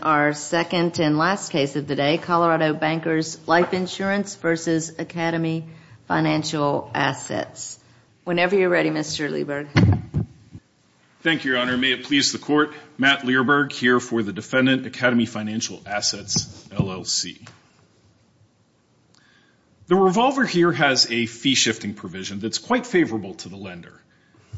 Whenever you're ready, Mr. Leiberg. Thank you, Your Honor. May it please the Court, Matt Leiberg here for the defendant, Academy Financial Assets, LLC. The revolver here has a fee-shifting provision that's quite favorable to the lender.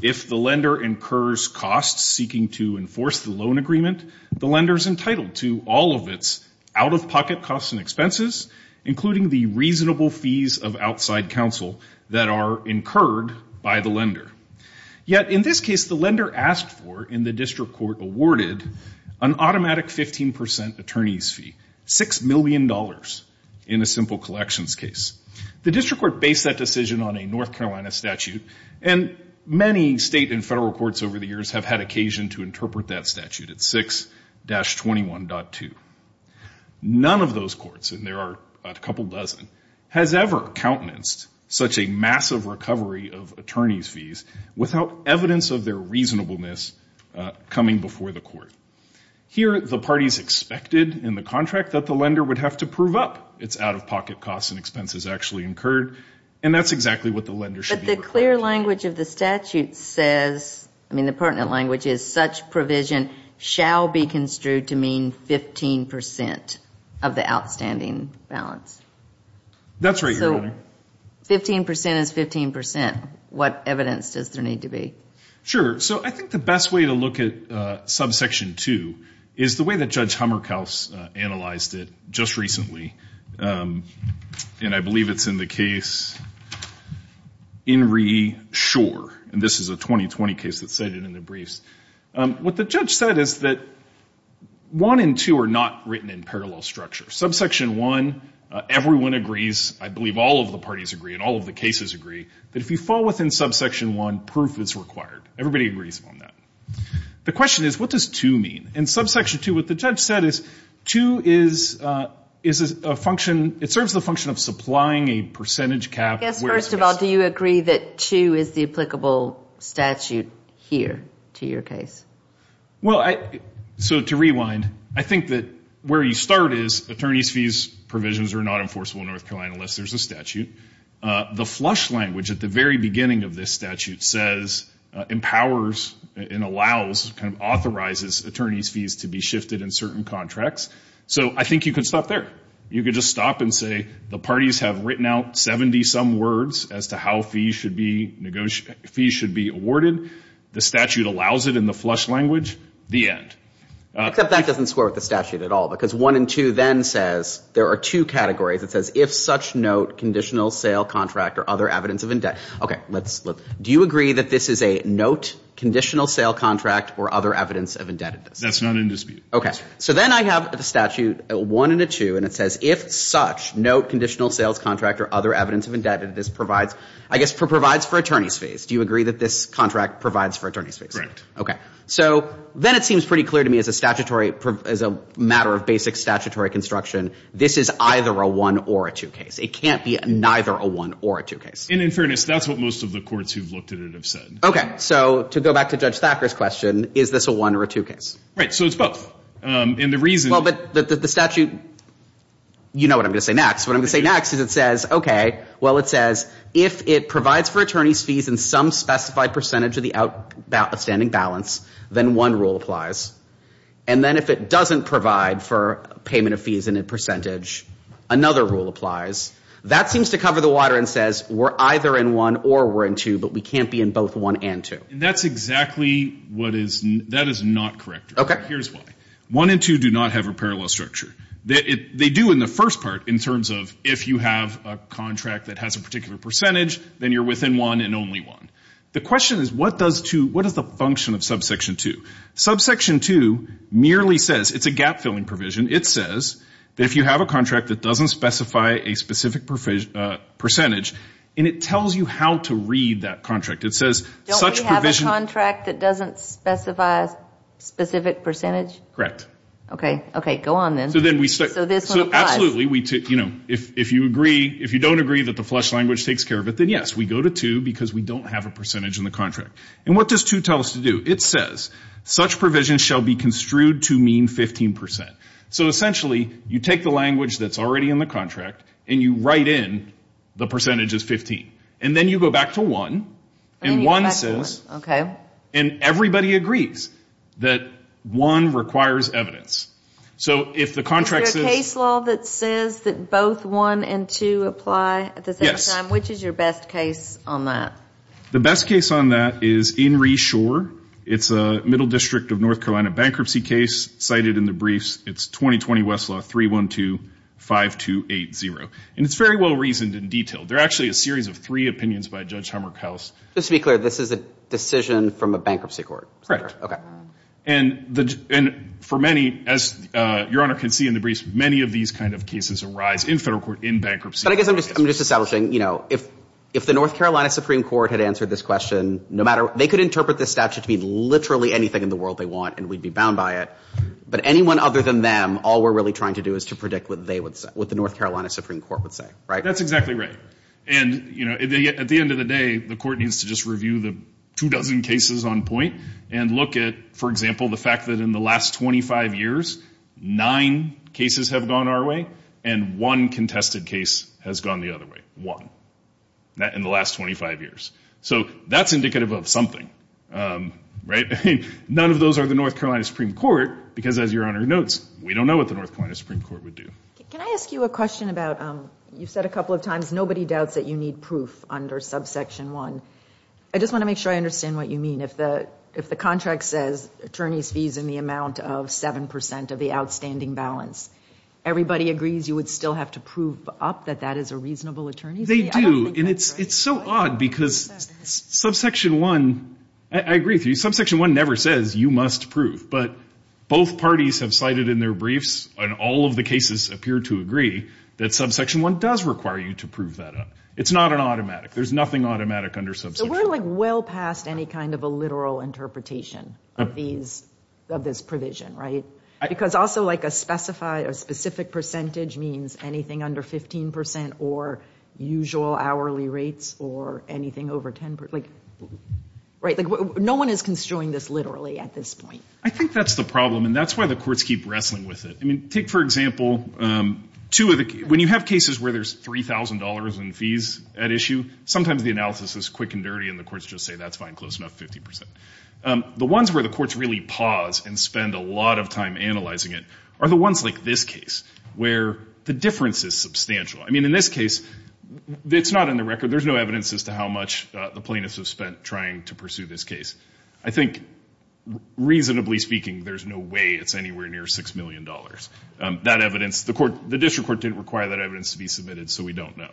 If the lender incurs costs seeking to enforce the loan agreement, the lender is entitled to. All of its out-of-pocket costs and expenses, including the reasonable fees of outside counsel that are incurred by the lender. Yet, in this case, the lender asked for, and the district court awarded, an automatic 15% attorney's fee, $6 million in a simple collections case. The district court based that decision on a North Carolina statute, and many state and federal courts over the years have had occasion to interpret that statute at 6-21.8. None of those courts, and there are a couple dozen, has ever countenanced such a massive recovery of attorney's fees without evidence of their reasonableness coming before the court. Here, the parties expected in the contract that the lender would have to prove up its out-of-pocket costs and expenses actually incurred. And that's exactly what the lender should be required to do. And the clear language of the statute says, I mean, the pertinent language is, such provision shall be construed to mean 15% of the outstanding balance. That's right, Your Honor. So 15% is 15%. What evidence does there need to be? Sure. So I think the best way to look at Subsection 2 is the way that Judge Hummerkaus analyzed it just recently. And this is a 2020 case that's cited in the briefs. What the judge said is that 1 and 2 are not written in parallel structure. Subsection 1, everyone agrees, I believe all of the parties agree and all of the cases agree, that if you fall within Subsection 1, proof is required. Everybody agrees on that. The question is, what does 2 mean? In Subsection 2, what the judge said is 2 is a function, it serves the function of supplying a percentage cap. Yes, first of all, do you agree that 2 is the applicable statute here to your case? Well, so to rewind, I think that where you start is, attorneys' fees provisions are not enforceable in North Carolina unless there's a statute. The flush language at the very beginning of this statute says, empowers and allows, kind of authorizes attorneys' fees to be shifted in certain contracts. So I think you could stop there. You could just stop and say the parties have written out 70-some words as to how fees should be awarded. The statute allows it in the flush language. The end. Except that doesn't score with the statute at all, because 1 and 2 then says there are two categories. It says, if such note, conditional sale contract, or other evidence of indebtedness. Do you agree that this is a note, conditional sale contract, or other evidence of indebtedness? That's not in dispute. So then I have the statute 1 and 2, and it says, if such note, conditional sales contract, or other evidence of indebtedness provides, I guess, for attorney's fees. Do you agree that this contract provides for attorney's fees? Correct. So then it seems pretty clear to me as a matter of basic statutory construction, this is either a 1 or a 2 case. It can't be neither a 1 or a 2 case. And in fairness, that's what most of the courts who've looked at it have said. Okay. So to go back to Judge Thacker's question, is this a 1 or a 2 case? Right. So it's both. Well, but the statute, you know what I'm going to say next. What I'm going to say next is it says, okay, well, it says, if it provides for attorney's fees in some specified percentage of the outstanding balance, then one rule applies. And then if it doesn't provide for payment of fees in a percentage, another rule applies. That seems to cover the water and says we're either in 1 or we're in 2, but we can't be in both 1 and 2. That's exactly what is, that is not correct. Here's why. 1 and 2 do not have a parallel structure. They do in the first part in terms of if you have a contract that has a particular percentage, then you're within one and only one. The question is what does 2, what is the function of subsection 2? Subsection 2 merely says, it's a gap-filling provision. It says that if you have a contract that doesn't specify a specific percentage, and it tells you how to read that contract. It says such provision. Don't we have a contract that doesn't specify a specific percentage? Correct. Okay, go on then. So this one applies. Absolutely. If you don't agree that the flesh language takes care of it, then yes, we go to 2 because we don't have a percentage in the contract. And what does 2 tell us to do? It says such provision shall be construed to mean 15%. So essentially you take the language that's already in the contract and you write in the percentage is 15. And then you go back to 1. And 1 says, and everybody agrees that 1 requires evidence. Is there a case law that says that both 1 and 2 apply at the same time? Yes. Which is your best case on that? The best case on that is in Reshore. It's a Middle District of North Carolina bankruptcy case cited in the briefs. It's 2020 Westlaw 312-5280. And it's very well reasoned and detailed. They're actually a series of three opinions by Judge Hummerkaus. Just to be clear, this is a decision from a bankruptcy court? Correct. And for many, as Your Honor can see in the briefs, many of these kind of cases arise in federal court in bankruptcy. But I guess I'm just establishing, you know, if the North Carolina Supreme Court had answered this question, they could interpret this statute to be literally anything in the world they want and we'd be bound by it. But anyone other than them, all we're really trying to do is to predict what the North Carolina Supreme Court would say, right? That's exactly right. And, you know, at the end of the day, the court needs to just review the two dozen cases on point and look at, for example, the fact that in the last 25 years, nine cases have gone our way and one contested case has gone the other way. One. In the last 25 years. So that's indicative of something, right? None of those are the North Carolina Supreme Court, because as Your Honor notes, we don't know what the North Carolina Supreme Court would do. Can I ask you a question about, you've said a couple of times, nobody doubts that you need proof under subsection one. I just want to make sure I understand what you mean. If the contract says attorneys fees in the amount of 7 percent of the outstanding balance, everybody agrees you would still have to prove up that that is a reasonable attorney's fee? They do. And it's so odd, because subsection one, I agree with you, subsection one never says you must prove. But both parties have cited in their briefs, and all of the cases appear to agree, that subsection one does require you to prove that up. It's not an automatic. There's nothing automatic under subsection one. So we're, like, well past any kind of a literal interpretation of these, of this provision, right? Because also, like, a specified, a specific percentage means anything under 15 percent or usual hourly rates or anything over 10 percent. Like, right? Like, no one is construing this literally at this point. I think that's the problem, and that's why the courts keep wrestling with it. I mean, take, for example, two of the, when you have cases where there's $3,000 in fees at issue, sometimes the analysis is quick and dirty, and the courts just say, that's fine, close enough, 50 percent. The ones where the courts really pause and spend a lot of time analyzing it are the ones like this case, where the difference is substantial. I mean, in this case, it's not in the record. There's no evidence as to how much the plaintiffs have spent trying to pursue this case. I think, reasonably speaking, there's no way it's anywhere near $6 million. That evidence, the court, the district court didn't require that evidence to be submitted, so we don't know.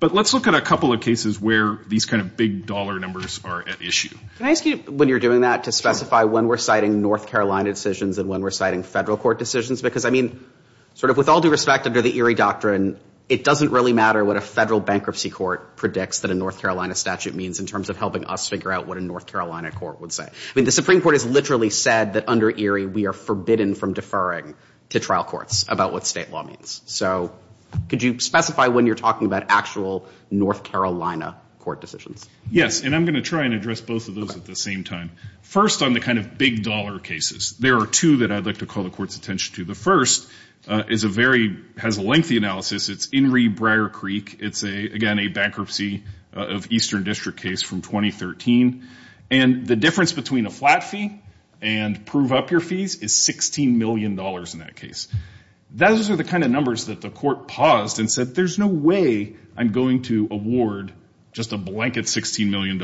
But let's look at a couple of cases where these kind of big dollar numbers are at issue. Can I ask you, when you're doing that, to specify when we're citing North Carolina decisions and when we're citing federal court decisions? Because, I mean, sort of with all due respect, under the Erie Doctrine, it doesn't really matter what a federal bankruptcy court predicts that a North Carolina statute means in terms of helping us figure out what a North Carolina court would say. I mean, the Supreme Court has literally said that, under Erie, we are forbidden from deferring to trial courts about what state law means. So could you specify when you're talking about actual North Carolina court decisions? Yes, and I'm going to try and address both of those at the same time. First, on the kind of big dollar cases, there are two that I'd like to call the court's attention to. The first has a lengthy analysis. It's Inree Brier Creek. It's, again, a bankruptcy of Eastern District case from 2013. And the difference between a flat fee and prove up your fees is $16 million in that case. Those are the kind of numbers that the court paused and said, there's no way I'm going to award just a blanket $16 million.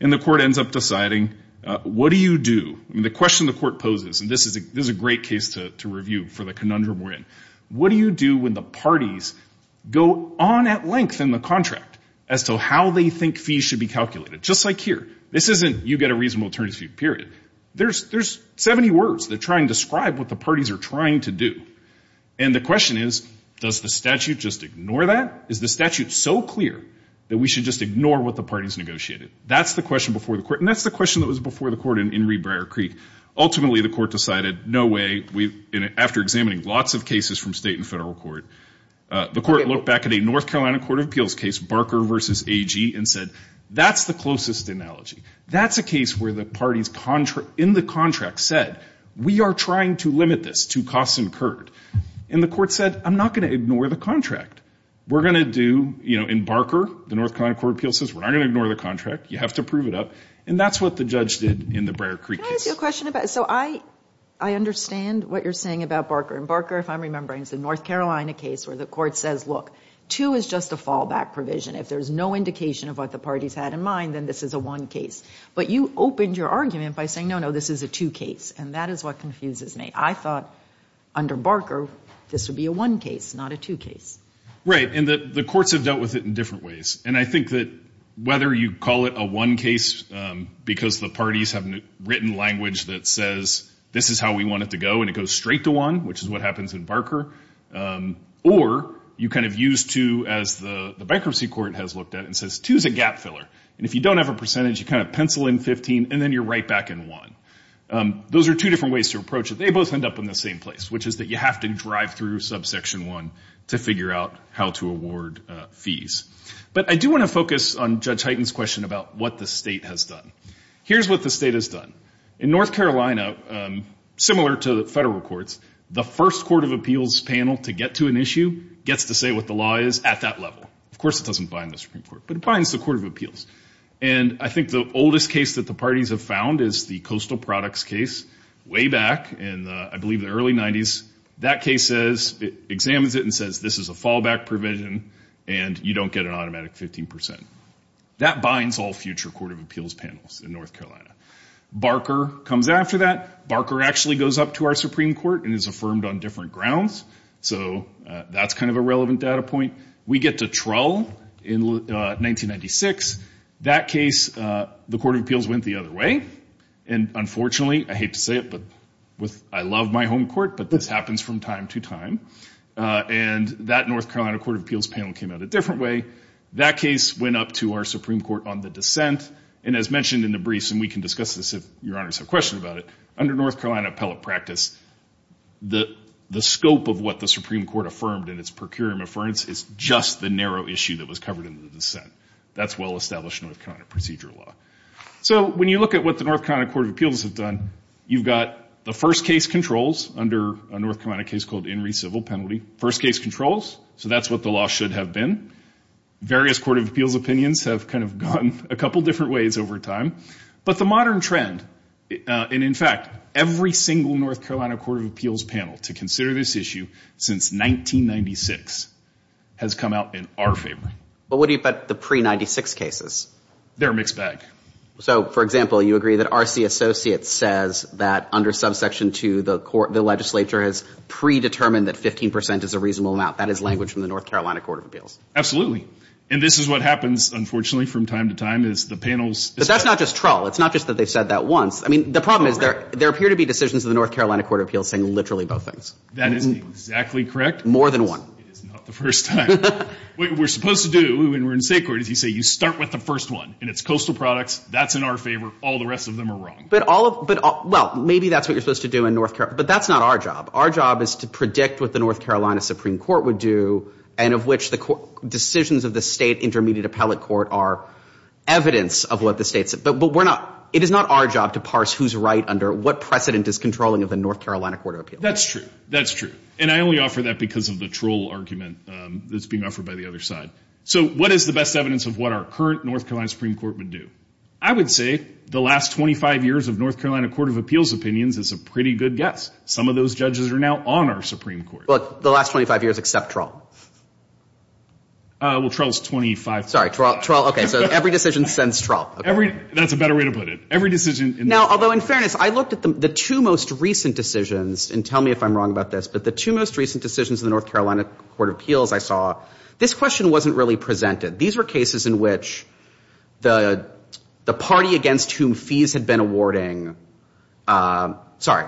And the court ends up deciding, what do you do? I mean, the question the court poses, and this is a great case to review for the conundrum we're in, what do you do when the parties go on at length in the contract as to how they think fees should be calculated? Just like here. This isn't you get a reasonable attorney's fee, period. There's 70 words that try and describe what the parties are trying to do. And the question is, does the statute just ignore that? Is the statute so clear that we should just ignore what the parties negotiated? That's the question before the court, and that's the question that was before the court in Inree Brier Creek. Ultimately, the court decided, no way, after examining lots of cases from state and federal court, the court looked back at a North Carolina Court of Appeals case, Barker v. AG, and said, that's the closest analogy. That's a case where the parties in the contract said, we are trying to limit this to costs incurred. And the court said, I'm not going to ignore the contract. We're going to do, in Barker, the North Carolina Court of Appeals says, we're not going to ignore the contract. You have to prove it up. And that's what the judge did in the Brier Creek case. Can I ask you a question? So I understand what you're saying about Barker. In Barker, if I'm remembering, it's the North Carolina case where the court says, look, two is just a fallback provision. If there's no indication of what the parties had in mind, then this is a one case. But you opened your argument by saying, no, no, this is a two case. And that is what confuses me. I thought, under Barker, this would be a one case, not a two case. Right. And the courts have dealt with it in different ways. And I think that whether you call it a one case, because the parties have written language that says, this is how we want it to go, and it goes straight to one, which is what happens in Barker. Or you kind of use two, as the bankruptcy court has looked at, and says, two is a gap filler. And if you don't have a percentage, you kind of pencil in 15, and then you're right back in one. Those are two different ways to approach it. They both end up in the same place, which is that you have to drive through subsection one to figure out how to award fees. But I do want to focus on Judge Hyten's question about what the state has done. Here's what the state has done. In North Carolina, similar to the federal courts, the first court of appeals panel to get to an issue gets to say what the law is at that level. Of course, it doesn't bind the Supreme Court, but it binds the court of appeals. And I think the oldest case that the parties have found is the coastal products case. Way back in, I believe, the early 90s, that case says, it examines it and says, this is a fallback provision, and you don't get an automatic 15%. That binds all future court of appeals panels in North Carolina. Barker comes after that. Barker actually goes up to our Supreme Court and is affirmed on different grounds. So that's kind of a relevant data point. We get to Trull in 1996. That case, the court of appeals went the other way. And unfortunately, I hate to say it, but I love my home court, but this happens from time to time. And that North Carolina court of appeals panel came out a different way. That case went up to our Supreme Court on the dissent. And as mentioned in the briefs, and we can discuss this if Your Honors have questions about it, under North Carolina appellate practice, the scope of what the Supreme Court affirmed in its procuratorial affirmance is just the narrow issue that was covered in the dissent. That's well-established North Carolina procedure law. So when you look at what the North Carolina court of appeals have done, you've got the first case controls under a North Carolina case called Inree Civil Penalty. First case controls, so that's what the law should have been. Various court of appeals opinions have kind of gone a couple different ways over time. But the modern trend, and in fact, every single North Carolina court of appeals panel to consider this issue since 1996 has come out in our favor. But what about the pre-'96 cases? They're a mixed bag. So, for example, you agree that R.C. Associates says that under subsection 2, the legislature has predetermined that 15 percent is a reasonable amount. That is language from the North Carolina court of appeals. Absolutely. And this is what happens, unfortunately, from time to time is the panels. But that's not just troll. It's not just that they've said that once. I mean, the problem is there appear to be decisions in the North Carolina court of appeals saying literally both things. That is exactly correct. More than one. It is not the first time. What we're supposed to do when we're in state court is you say you start with the first one. And it's coastal products. That's in our favor. All the rest of them are wrong. Well, maybe that's what you're supposed to do in North Carolina. But that's not our job. Our job is to predict what the North Carolina Supreme Court would do and of which the decisions of the state intermediate appellate court are evidence of what the state said. But it is not our job to parse who's right under what precedent is controlling of the North Carolina court of appeals. That's true. That's true. And I only offer that because of the troll argument that's being offered by the other side. So what is the best evidence of what our current North Carolina Supreme Court would do? I would say the last 25 years of North Carolina court of appeals opinions is a pretty good guess. Some of those judges are now on our Supreme Court. But the last 25 years except troll. Well, troll is 25. Sorry. Troll. Okay. So every decision sends troll. That's a better way to put it. Every decision. Now, although in fairness, I looked at the two most recent decisions, and tell me if I'm wrong about this, but the two most recent decisions in the North Carolina court of appeals I saw, this question wasn't really presented. These were cases in which the party against whom fees had been awarding, sorry,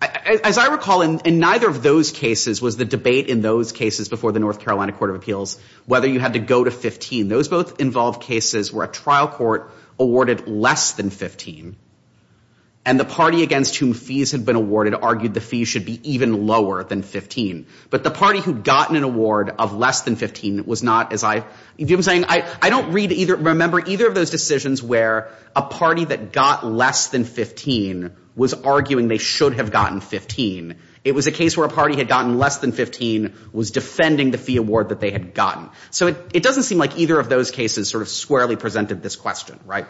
as I recall, in neither of those cases was the debate in those cases before the North Carolina court of appeals whether you had to go to 15. Those both involved cases where a trial court awarded less than 15, and the party against whom fees had been awarded argued the fees should be even lower than 15. But the party who'd gotten an award of less than 15 was not, as I, do you know what I'm saying? I don't read either, remember either of those decisions where a party that got less than 15 was arguing they should have gotten 15. It was a case where a party had gotten less than 15 was defending the fee award that they had gotten. So it doesn't seem like either of those cases sort of squarely presented this question, right?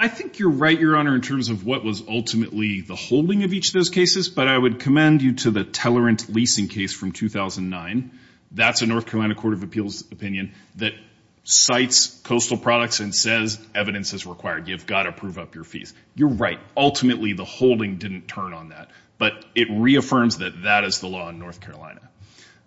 I think you're right, Your Honor, in terms of what was ultimately the holding of each of those cases, but I would commend you to the Tellerant leasing case from 2009. That's a North Carolina court of appeals opinion that cites coastal products and says evidence is required. You've got to prove up your fees. You're right. Ultimately, the holding didn't turn on that, but it reaffirms that that is the law in North Carolina.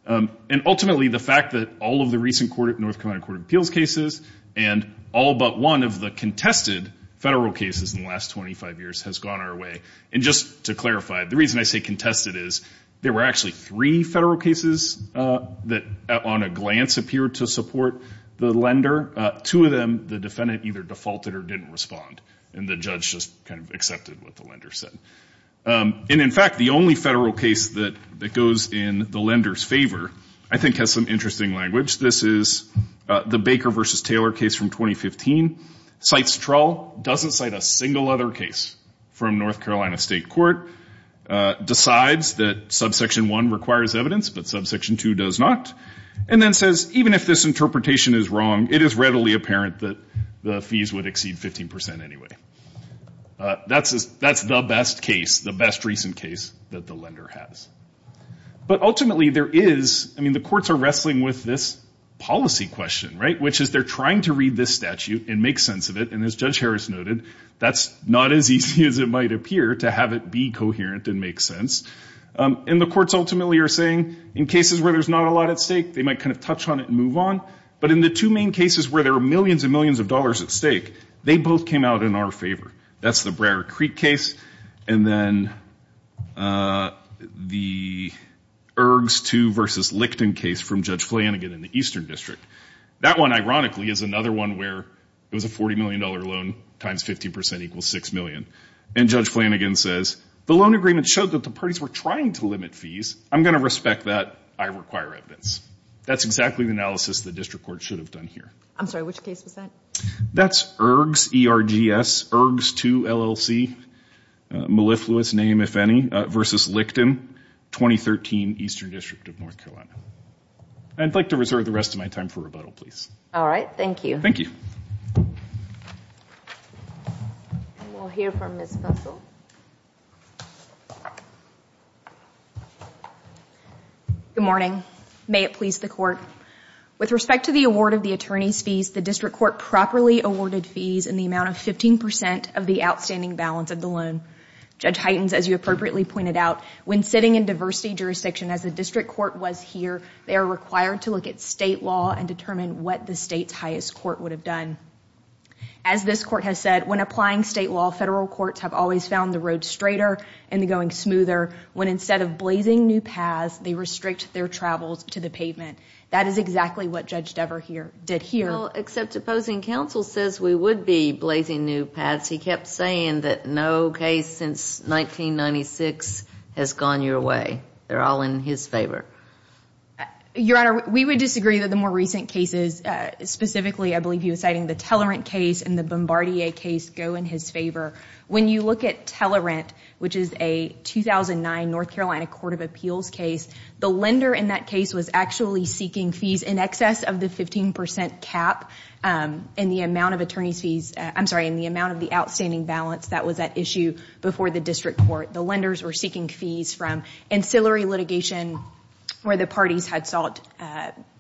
And ultimately, the fact that all of the recent North Carolina court of appeals cases and all but one of the contested federal cases in the last 25 years has gone our way. And just to clarify, the reason I say contested is there were actually three federal cases that, on a glance, appeared to support the lender. Two of them, the defendant either defaulted or didn't respond, and the judge just kind of accepted what the lender said. And, in fact, the only federal case that goes in the lender's favor I think has some interesting language. This is the Baker v. Taylor case from 2015. Cites trawl, doesn't cite a single other case from North Carolina state court, decides that subsection 1 requires evidence but subsection 2 does not, and then says even if this interpretation is wrong, it is readily apparent that the fees would exceed 15% anyway. That's the best case, the best recent case that the lender has. But ultimately, there is, I mean, the courts are wrestling with this policy question, right, which is they're trying to read this statute and make sense of it, and as Judge Harris noted, that's not as easy as it might appear to have it be coherent and make sense. And the courts ultimately are saying in cases where there's not a lot at stake, they might kind of touch on it and move on. But in the two main cases where there are millions and millions of dollars at stake, they both came out in our favor. That's the Broward Creek case and then the Ergs 2 v. Licton case from Judge Flanagan in the Eastern District. That one, ironically, is another one where it was a $40 million loan times 15% equals $6 million. And Judge Flanagan says the loan agreement showed that the parties were trying to limit fees. I'm going to respect that. I require evidence. That's exactly the analysis the district court should have done here. I'm sorry, which case was that? That's Ergs, E-R-G-S, Ergs 2 LLC, mellifluous name if any, v. Licton, 2013 Eastern District of North Carolina. I'd like to reserve the rest of my time for rebuttal, please. All right, thank you. Thank you. And we'll hear from Ms. Fussell. Thank you. Good morning. May it please the Court. With respect to the award of the attorney's fees, the district court properly awarded fees in the amount of 15% of the outstanding balance of the loan. Judge Hytens, as you appropriately pointed out, when sitting in diversity jurisdiction as the district court was here, they are required to look at state law and determine what the state's highest court would have done. As this court has said, when applying state law, federal courts have always found the road straighter and going smoother when instead of blazing new paths, they restrict their travels to the pavement. That is exactly what Judge Dever did here. Well, except opposing counsel says we would be blazing new paths. He kept saying that no case since 1996 has gone your way. They're all in his favor. Your Honor, we would disagree that the more recent cases, specifically I believe he was citing the Tellerant case and the Bombardier case, go in his favor. When you look at Tellerant, which is a 2009 North Carolina Court of Appeals case, the lender in that case was actually seeking fees in excess of the 15% cap in the amount of the outstanding balance that was at issue before the district court. The lenders were seeking fees from ancillary litigation where the parties had sought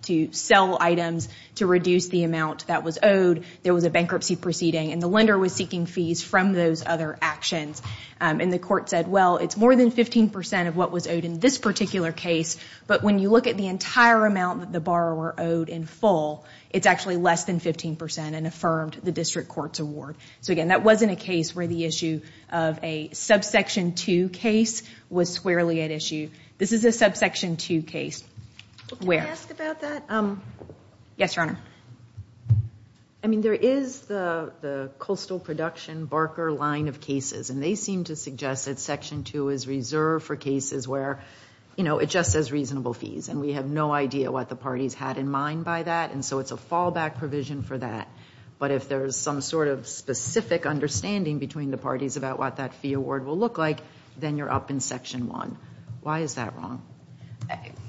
to sell items to reduce the amount that was owed. There was a bankruptcy proceeding, and the lender was seeking fees from those other actions. The court said, well, it's more than 15% of what was owed in this particular case, but when you look at the entire amount that the borrower owed in full, it's actually less than 15% and affirmed the district court's award. Again, that wasn't a case where the issue of a Subsection 2 case was squarely at issue. This is a Subsection 2 case. Can I ask about that? Yes, Your Honor. I mean, there is the coastal production Barker line of cases, and they seem to suggest that Section 2 is reserved for cases where it just says reasonable fees, and we have no idea what the parties had in mind by that, and so it's a fallback provision for that. But if there's some sort of specific understanding between the parties about what that fee award will look like, then you're up in Section 1. Why is that wrong?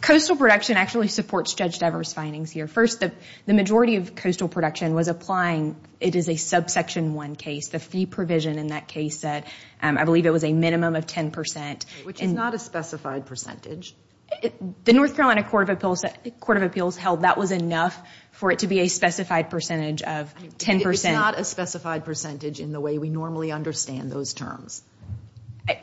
Coastal production actually supports Judge Devers' findings here. First, the majority of coastal production was applying. It is a Subsection 1 case. The fee provision in that case said, I believe it was a minimum of 10%. Which is not a specified percentage. The North Carolina Court of Appeals held that was enough for it to be a specified percentage of 10%. It's not a specified percentage in the way we normally understand those terms.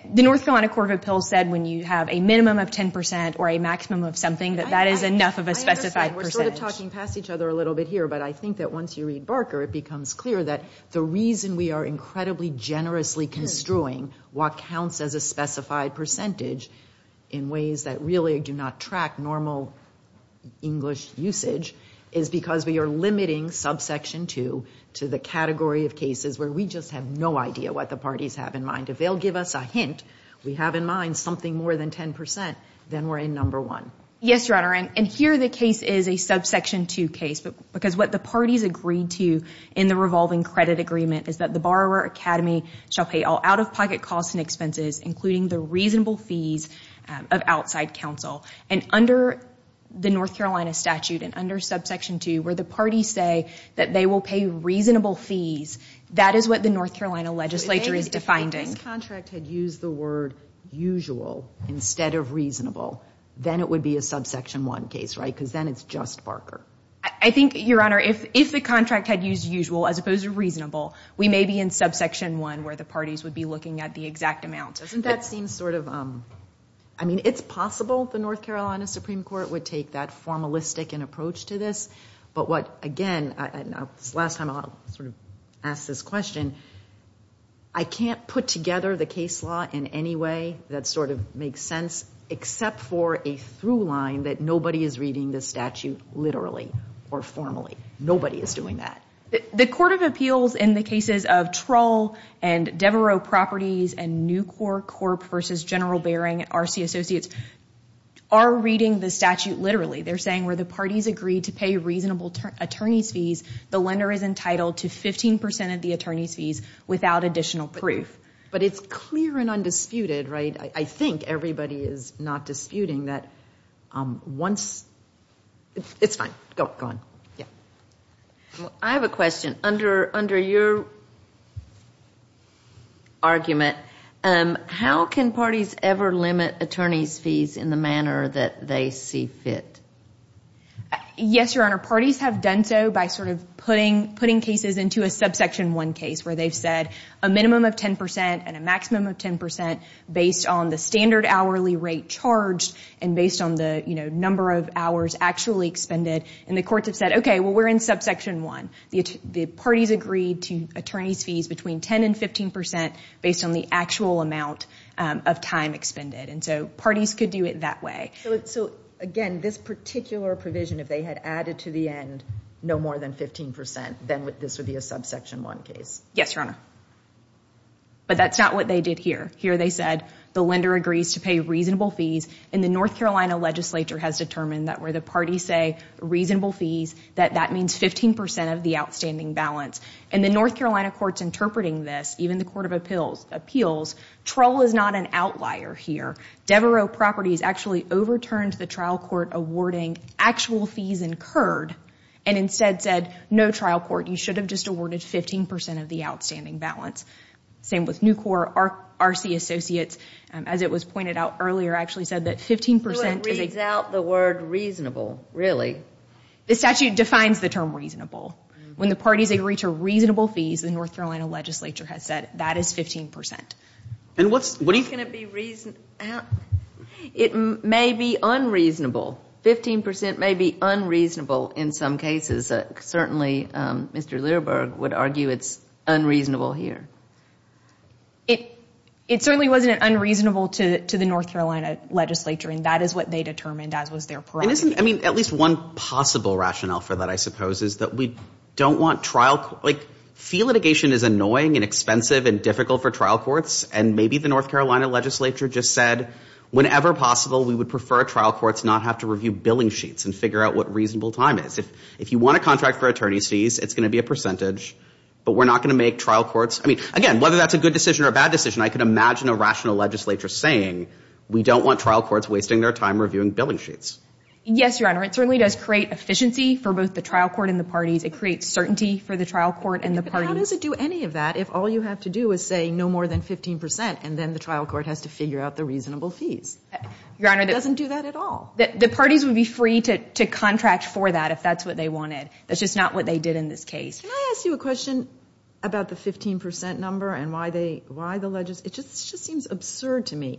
The North Carolina Court of Appeals said when you have a minimum of 10% or a maximum of something, that that is enough of a specified percentage. I understand. We're sort of talking past each other a little bit here, but I think that once you read Barker, it becomes clear that the reason we are incredibly generously construing what counts as a specified percentage in ways that really do not track normal English usage is because we are limiting Subsection 2 to the category of cases where we just have no idea what the parties have in mind. If they'll give us a hint, we have in mind something more than 10%, then we're in Number 1. Yes, Your Honor. And here the case is a Subsection 2 case, because what the parties agreed to in the revolving credit agreement is that the borrower academy shall pay all out-of-pocket costs and expenses, including the reasonable fees of outside counsel. And under the North Carolina statute and under Subsection 2, where the parties say that they will pay reasonable fees, that is what the North Carolina legislature is defining. If this contract had used the word usual instead of reasonable, then it would be a Subsection 1 case, right? Because then it's just Barker. I think, Your Honor, if the contract had used usual as opposed to reasonable, we may be in Subsection 1 where the parties would be looking at the exact amount. Doesn't that seem sort of, I mean, it's possible the North Carolina Supreme Court would take that formalistic approach to this. But what, again, and this is the last time I'll sort of ask this question, I can't put together the case law in any way that sort of makes sense except for a through line that nobody is reading the statute literally or formally. Nobody is doing that. The Court of Appeals in the cases of Troll and Devereaux Properties and Nucor Corp. v. General Bering at R.C. Associates are reading the statute literally. They're saying where the parties agree to pay reasonable attorney's fees, the lender is entitled to 15% of the attorney's fees without additional proof. But it's clear and undisputed, right? I think everybody is not disputing that once, it's fine. Go on. I have a question. Under your argument, how can parties ever limit attorney's fees in the manner that they see fit? Yes, Your Honor, parties have done so by sort of putting cases into a subsection 1 case where they've said a minimum of 10% and a maximum of 10% based on the standard hourly rate charged and based on the number of hours actually expended. And the courts have said, okay, well, we're in subsection 1. The parties agreed to attorney's fees between 10% and 15% based on the actual amount of time expended. And so parties could do it that way. So, again, this particular provision, if they had added to the end no more than 15%, then this would be a subsection 1 case. Yes, Your Honor. But that's not what they did here. Here they said the lender agrees to pay reasonable fees, and the North Carolina legislature has determined that where the parties say reasonable fees, that that means 15% of the outstanding balance. And the North Carolina courts interpreting this, even the Court of Appeals, troll is not an outlier here. Devereux Properties actually overturned the trial court awarding actual fees incurred and instead said, no, trial court, you should have just awarded 15% of the outstanding balance. Same with Nucor, RC Associates. As it was pointed out earlier, actually said that 15% is a So it reads out the word reasonable, really? The statute defines the term reasonable. When the parties agree to reasonable fees, the North Carolina legislature has said that is 15%. And what's going to be reasonable? It may be unreasonable. 15% may be unreasonable in some cases. Certainly, Mr. Lerberg would argue it's unreasonable here. It certainly wasn't unreasonable to the North Carolina legislature, and that is what they determined as was their priority. I mean, at least one possible rationale for that, I suppose, is that we don't want trial, like fee litigation is annoying and expensive and difficult for trial courts, and maybe the North Carolina legislature just said, whenever possible, we would prefer trial courts not have to review billing sheets and figure out what reasonable time is. If you want a contract for attorney's fees, it's going to be a percentage, but we're not going to make trial courts – I mean, again, whether that's a good decision or a bad decision, I could imagine a rational legislature saying we don't want trial courts wasting their time reviewing billing sheets. Yes, Your Honor. It certainly does create efficiency for both the trial court and the parties. It creates certainty for the trial court and the parties. But how does it do any of that if all you have to do is say no more than 15% and then the trial court has to figure out the reasonable fees? It doesn't do that at all. The parties would be free to contract for that if that's what they wanted. That's just not what they did in this case. Can I ask you a question about the 15% number and why the – it just seems absurd to me.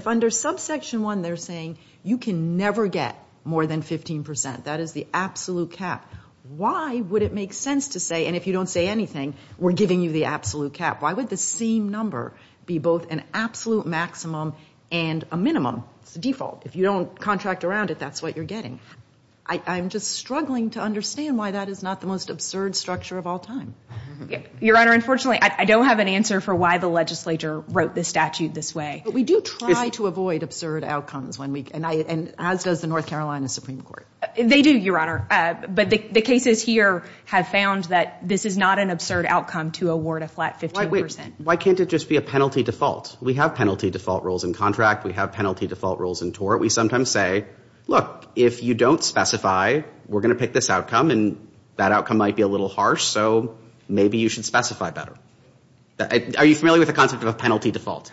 If under subsection 1 they're saying you can never get more than 15%, that is the absolute cap, why would it make sense to say – and if you don't say anything, we're giving you the absolute cap – why would the same number be both an absolute maximum and a minimum? It's the default. If you don't contract around it, that's what you're getting. I'm just struggling to understand why that is not the most absurd structure of all time. Your Honor, unfortunately, I don't have an answer for why the legislature wrote the statute this way. But we do try to avoid absurd outcomes when we – and as does the North Carolina Supreme Court. They do, Your Honor. But the cases here have found that this is not an absurd outcome to award a flat 15%. Why can't it just be a penalty default? We have penalty default rules in contract. We have penalty default rules in tort. We sometimes say, look, if you don't specify, we're going to pick this outcome and that outcome might be a little harsh, so maybe you should specify better. Are you familiar with the concept of a penalty default?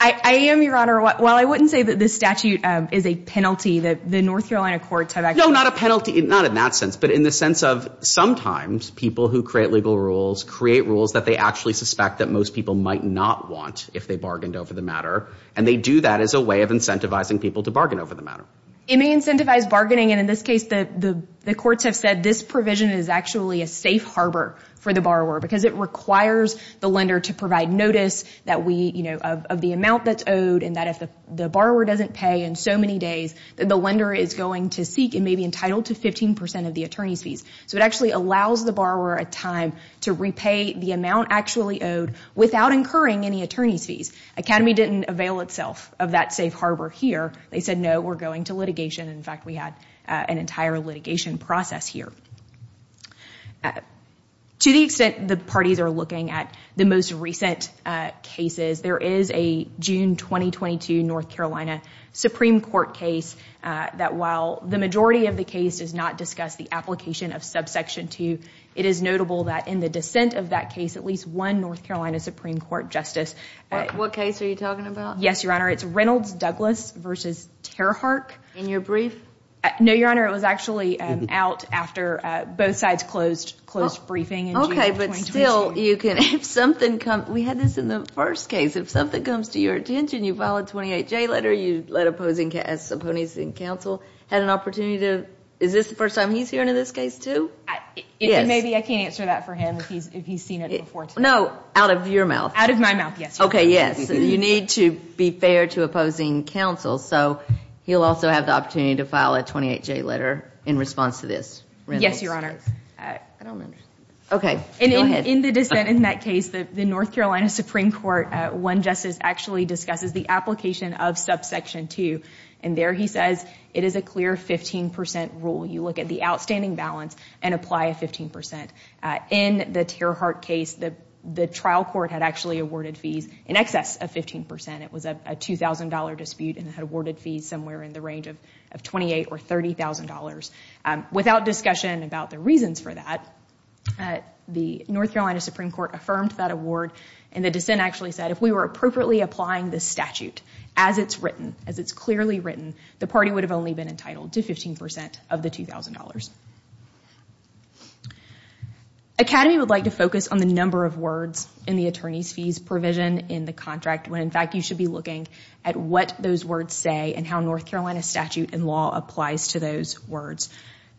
I am, Your Honor. While I wouldn't say that this statute is a penalty, the North Carolina courts have actually – No, not a penalty. Not in that sense, but in the sense of sometimes people who create legal rules create rules that they actually suspect that most people might not want if they bargained over the matter. And they do that as a way of incentivizing people to bargain over the matter. It may incentivize bargaining, and in this case the courts have said this provision is actually a safe harbor for the borrower because it requires the lender to provide notice that we – of the amount that's owed and that if the borrower doesn't pay in so many days that the lender is going to seek and may be entitled to 15% of the attorney's fees. So it actually allows the borrower a time to repay the amount actually owed without incurring any attorney's fees. Academy didn't avail itself of that safe harbor here. They said, no, we're going to litigation. In fact, we had an entire litigation process here. To the extent the parties are looking at the most recent cases, there is a June 2022 North Carolina Supreme Court case that while the majority of the case does not discuss the application of subsection 2, it is notable that in the dissent of that case, there was at least one North Carolina Supreme Court justice. What case are you talking about? Yes, Your Honor. It's Reynolds-Douglas v. Terhark. In your brief? No, Your Honor, it was actually out after both sides closed briefing in June 2022. Okay, but still you can – if something comes – we had this in the first case. If something comes to your attention, you file a 28-J letter, you let opponents in counsel have an opportunity to – is this the first time he's hearing of this case too? Yes. Maybe I can't answer that for him if he's seen it before. No, out of your mouth. Out of my mouth, yes, Your Honor. Okay, yes. You need to be fair to opposing counsel, so he'll also have the opportunity to file a 28-J letter in response to this. Yes, Your Honor. I don't understand. Okay, go ahead. In the dissent in that case, the North Carolina Supreme Court, one justice actually discusses the application of subsection 2, and there he says it is a clear 15 percent rule. You look at the outstanding balance and apply a 15 percent. In the Tear Heart case, the trial court had actually awarded fees in excess of 15 percent. It was a $2,000 dispute and it had awarded fees somewhere in the range of $28,000 or $30,000. Without discussion about the reasons for that, the North Carolina Supreme Court affirmed that award, and the dissent actually said if we were appropriately applying this statute, as it's written, as it's clearly written, the party would have only been entitled to 15 percent of the $2,000. Academy would like to focus on the number of words in the attorney's fees provision in the contract when, in fact, you should be looking at what those words say and how North Carolina statute and law applies to those words.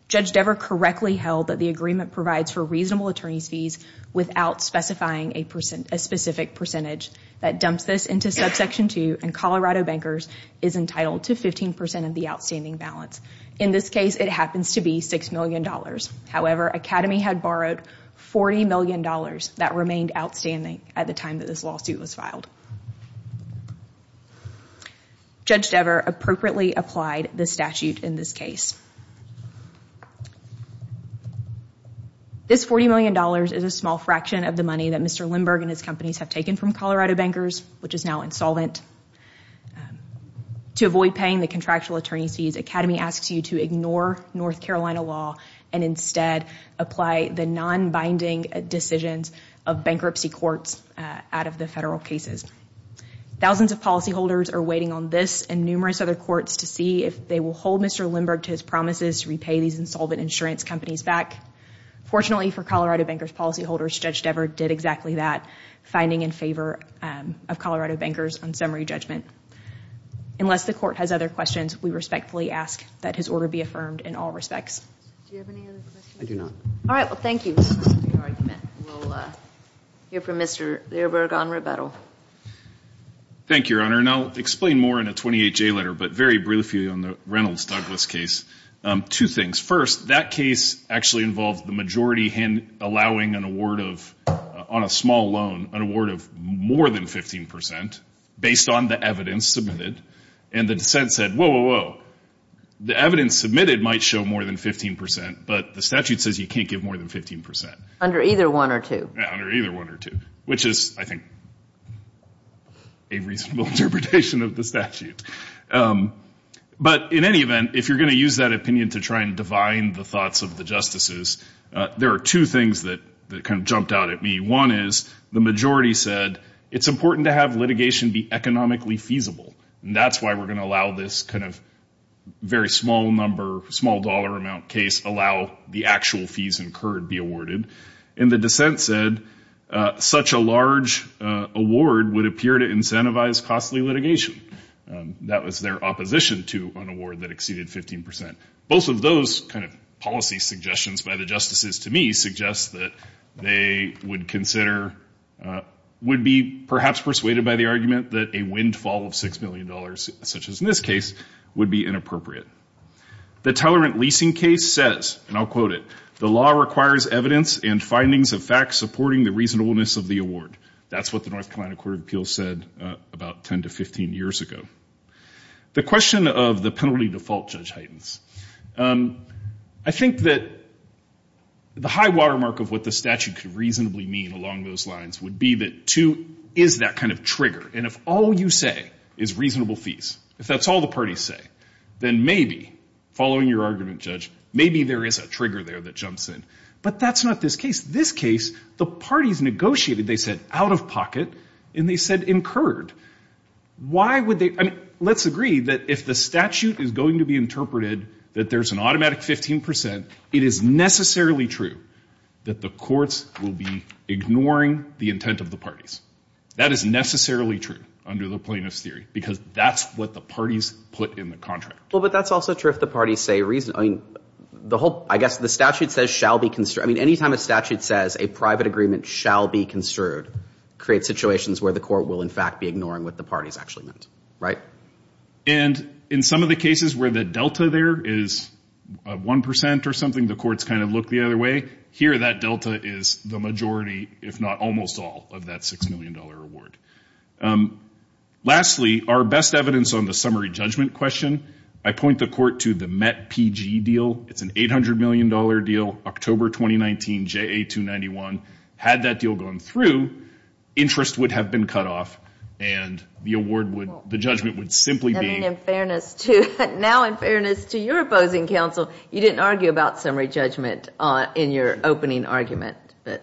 Judge Dever correctly held that the agreement provides for reasonable attorney's fees without specifying a specific percentage. That dumps this into Subsection 2, and Colorado Bankers is entitled to 15 percent of the outstanding balance. In this case, it happens to be $6 million. However, Academy had borrowed $40 million that remained outstanding at the time that this lawsuit was filed. Judge Dever appropriately applied the statute in this case. This $40 million is a small fraction of the money that Mr. Lindberg and his companies have taken from Colorado Bankers, which is now insolvent. To avoid paying the contractual attorney's fees, Academy asks you to ignore North Carolina law and instead apply the non-binding decisions of bankruptcy courts out of the federal cases. Thousands of policyholders are waiting on this and numerous other courts to see if they will hold Mr. Lindberg to his promises to repay these insolvent insurance companies back. Fortunately for Colorado Bankers policyholders, Judge Dever did exactly that, finding in favor of Colorado Bankers on summary judgment. Unless the court has other questions, we respectfully ask that his order be affirmed in all respects. Do you have any other questions? I do not. All right, well, thank you for your argument. We'll hear from Mr. Lindberg on rebuttal. Thank you, Your Honor. And I'll explain more in a 28-J letter, but very briefly on the Reynolds-Douglas case. Two things. First, that case actually involved the majority allowing an award of, on a small loan, an award of more than 15 percent based on the evidence submitted. And the dissent said, whoa, whoa, whoa, the evidence submitted might show more than 15 percent, but the statute says you can't give more than 15 percent. Under either one or two. Which is, I think, a reasonable interpretation of the statute. But in any event, if you're going to use that opinion to try and divine the thoughts of the justices, there are two things that kind of jumped out at me. One is the majority said it's important to have litigation be economically feasible, and that's why we're going to allow this kind of very small number, small dollar amount case allow the actual fees incurred be awarded. And the dissent said such a large award would appear to incentivize costly litigation. That was their opposition to an award that exceeded 15 percent. Both of those kind of policy suggestions by the justices to me suggest that they would consider, would be perhaps persuaded by the argument that a windfall of $6 million, such as in this case, would be inappropriate. The Tolerant Leasing case says, and I'll quote it, the law requires evidence and findings of facts supporting the reasonableness of the award. That's what the North Carolina Court of Appeals said about 10 to 15 years ago. The question of the penalty default, Judge Heidens, I think that the high watermark of what the statute could reasonably mean along those lines would be that, two, is that kind of trigger? And if all you say is reasonable fees, if that's all the parties say, then maybe, following your argument, Judge, maybe there is a trigger there that jumps in. But that's not this case. This case, the parties negotiated, they said, out of pocket, and they said incurred. Why would they? I mean, let's agree that if the statute is going to be interpreted that there's an automatic 15 percent, it is necessarily true that the courts will be ignoring the intent of the parties. That is necessarily true under the plaintiff's theory, because that's what the parties put in the contract. Well, but that's also true if the parties say reasonable. I mean, the whole, I guess the statute says shall be, I mean, any time a statute says a private agreement shall be construed creates situations where the court will, in fact, be ignoring what the parties actually meant, right? And in some of the cases where the delta there is 1 percent or something, the courts kind of look the other way. Here, that delta is the majority, if not almost all, of that $6 million award. Lastly, our best evidence on the summary judgment question, I point the court to the MET-PG deal. It's an $800 million deal, October 2019, JA-291. Had that deal gone through, interest would have been cut off, and the award would, the judgment would simply be. And in fairness to, now in fairness to your opposing counsel, you didn't argue about summary judgment in your opening argument. But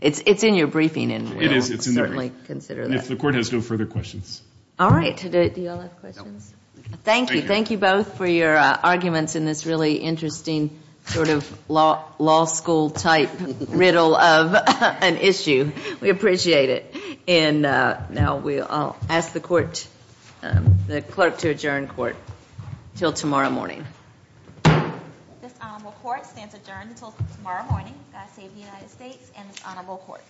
it's in your briefing, and we'll certainly consider that. It is. If the court has no further questions. All right. Do you all have questions? No. Thank you. Thank you both for your arguments in this really interesting sort of law school type riddle of an issue. We appreciate it. And now I'll ask the clerk to adjourn court until tomorrow morning. This honorable court stands adjourned until tomorrow morning. God save the United States and this honorable court.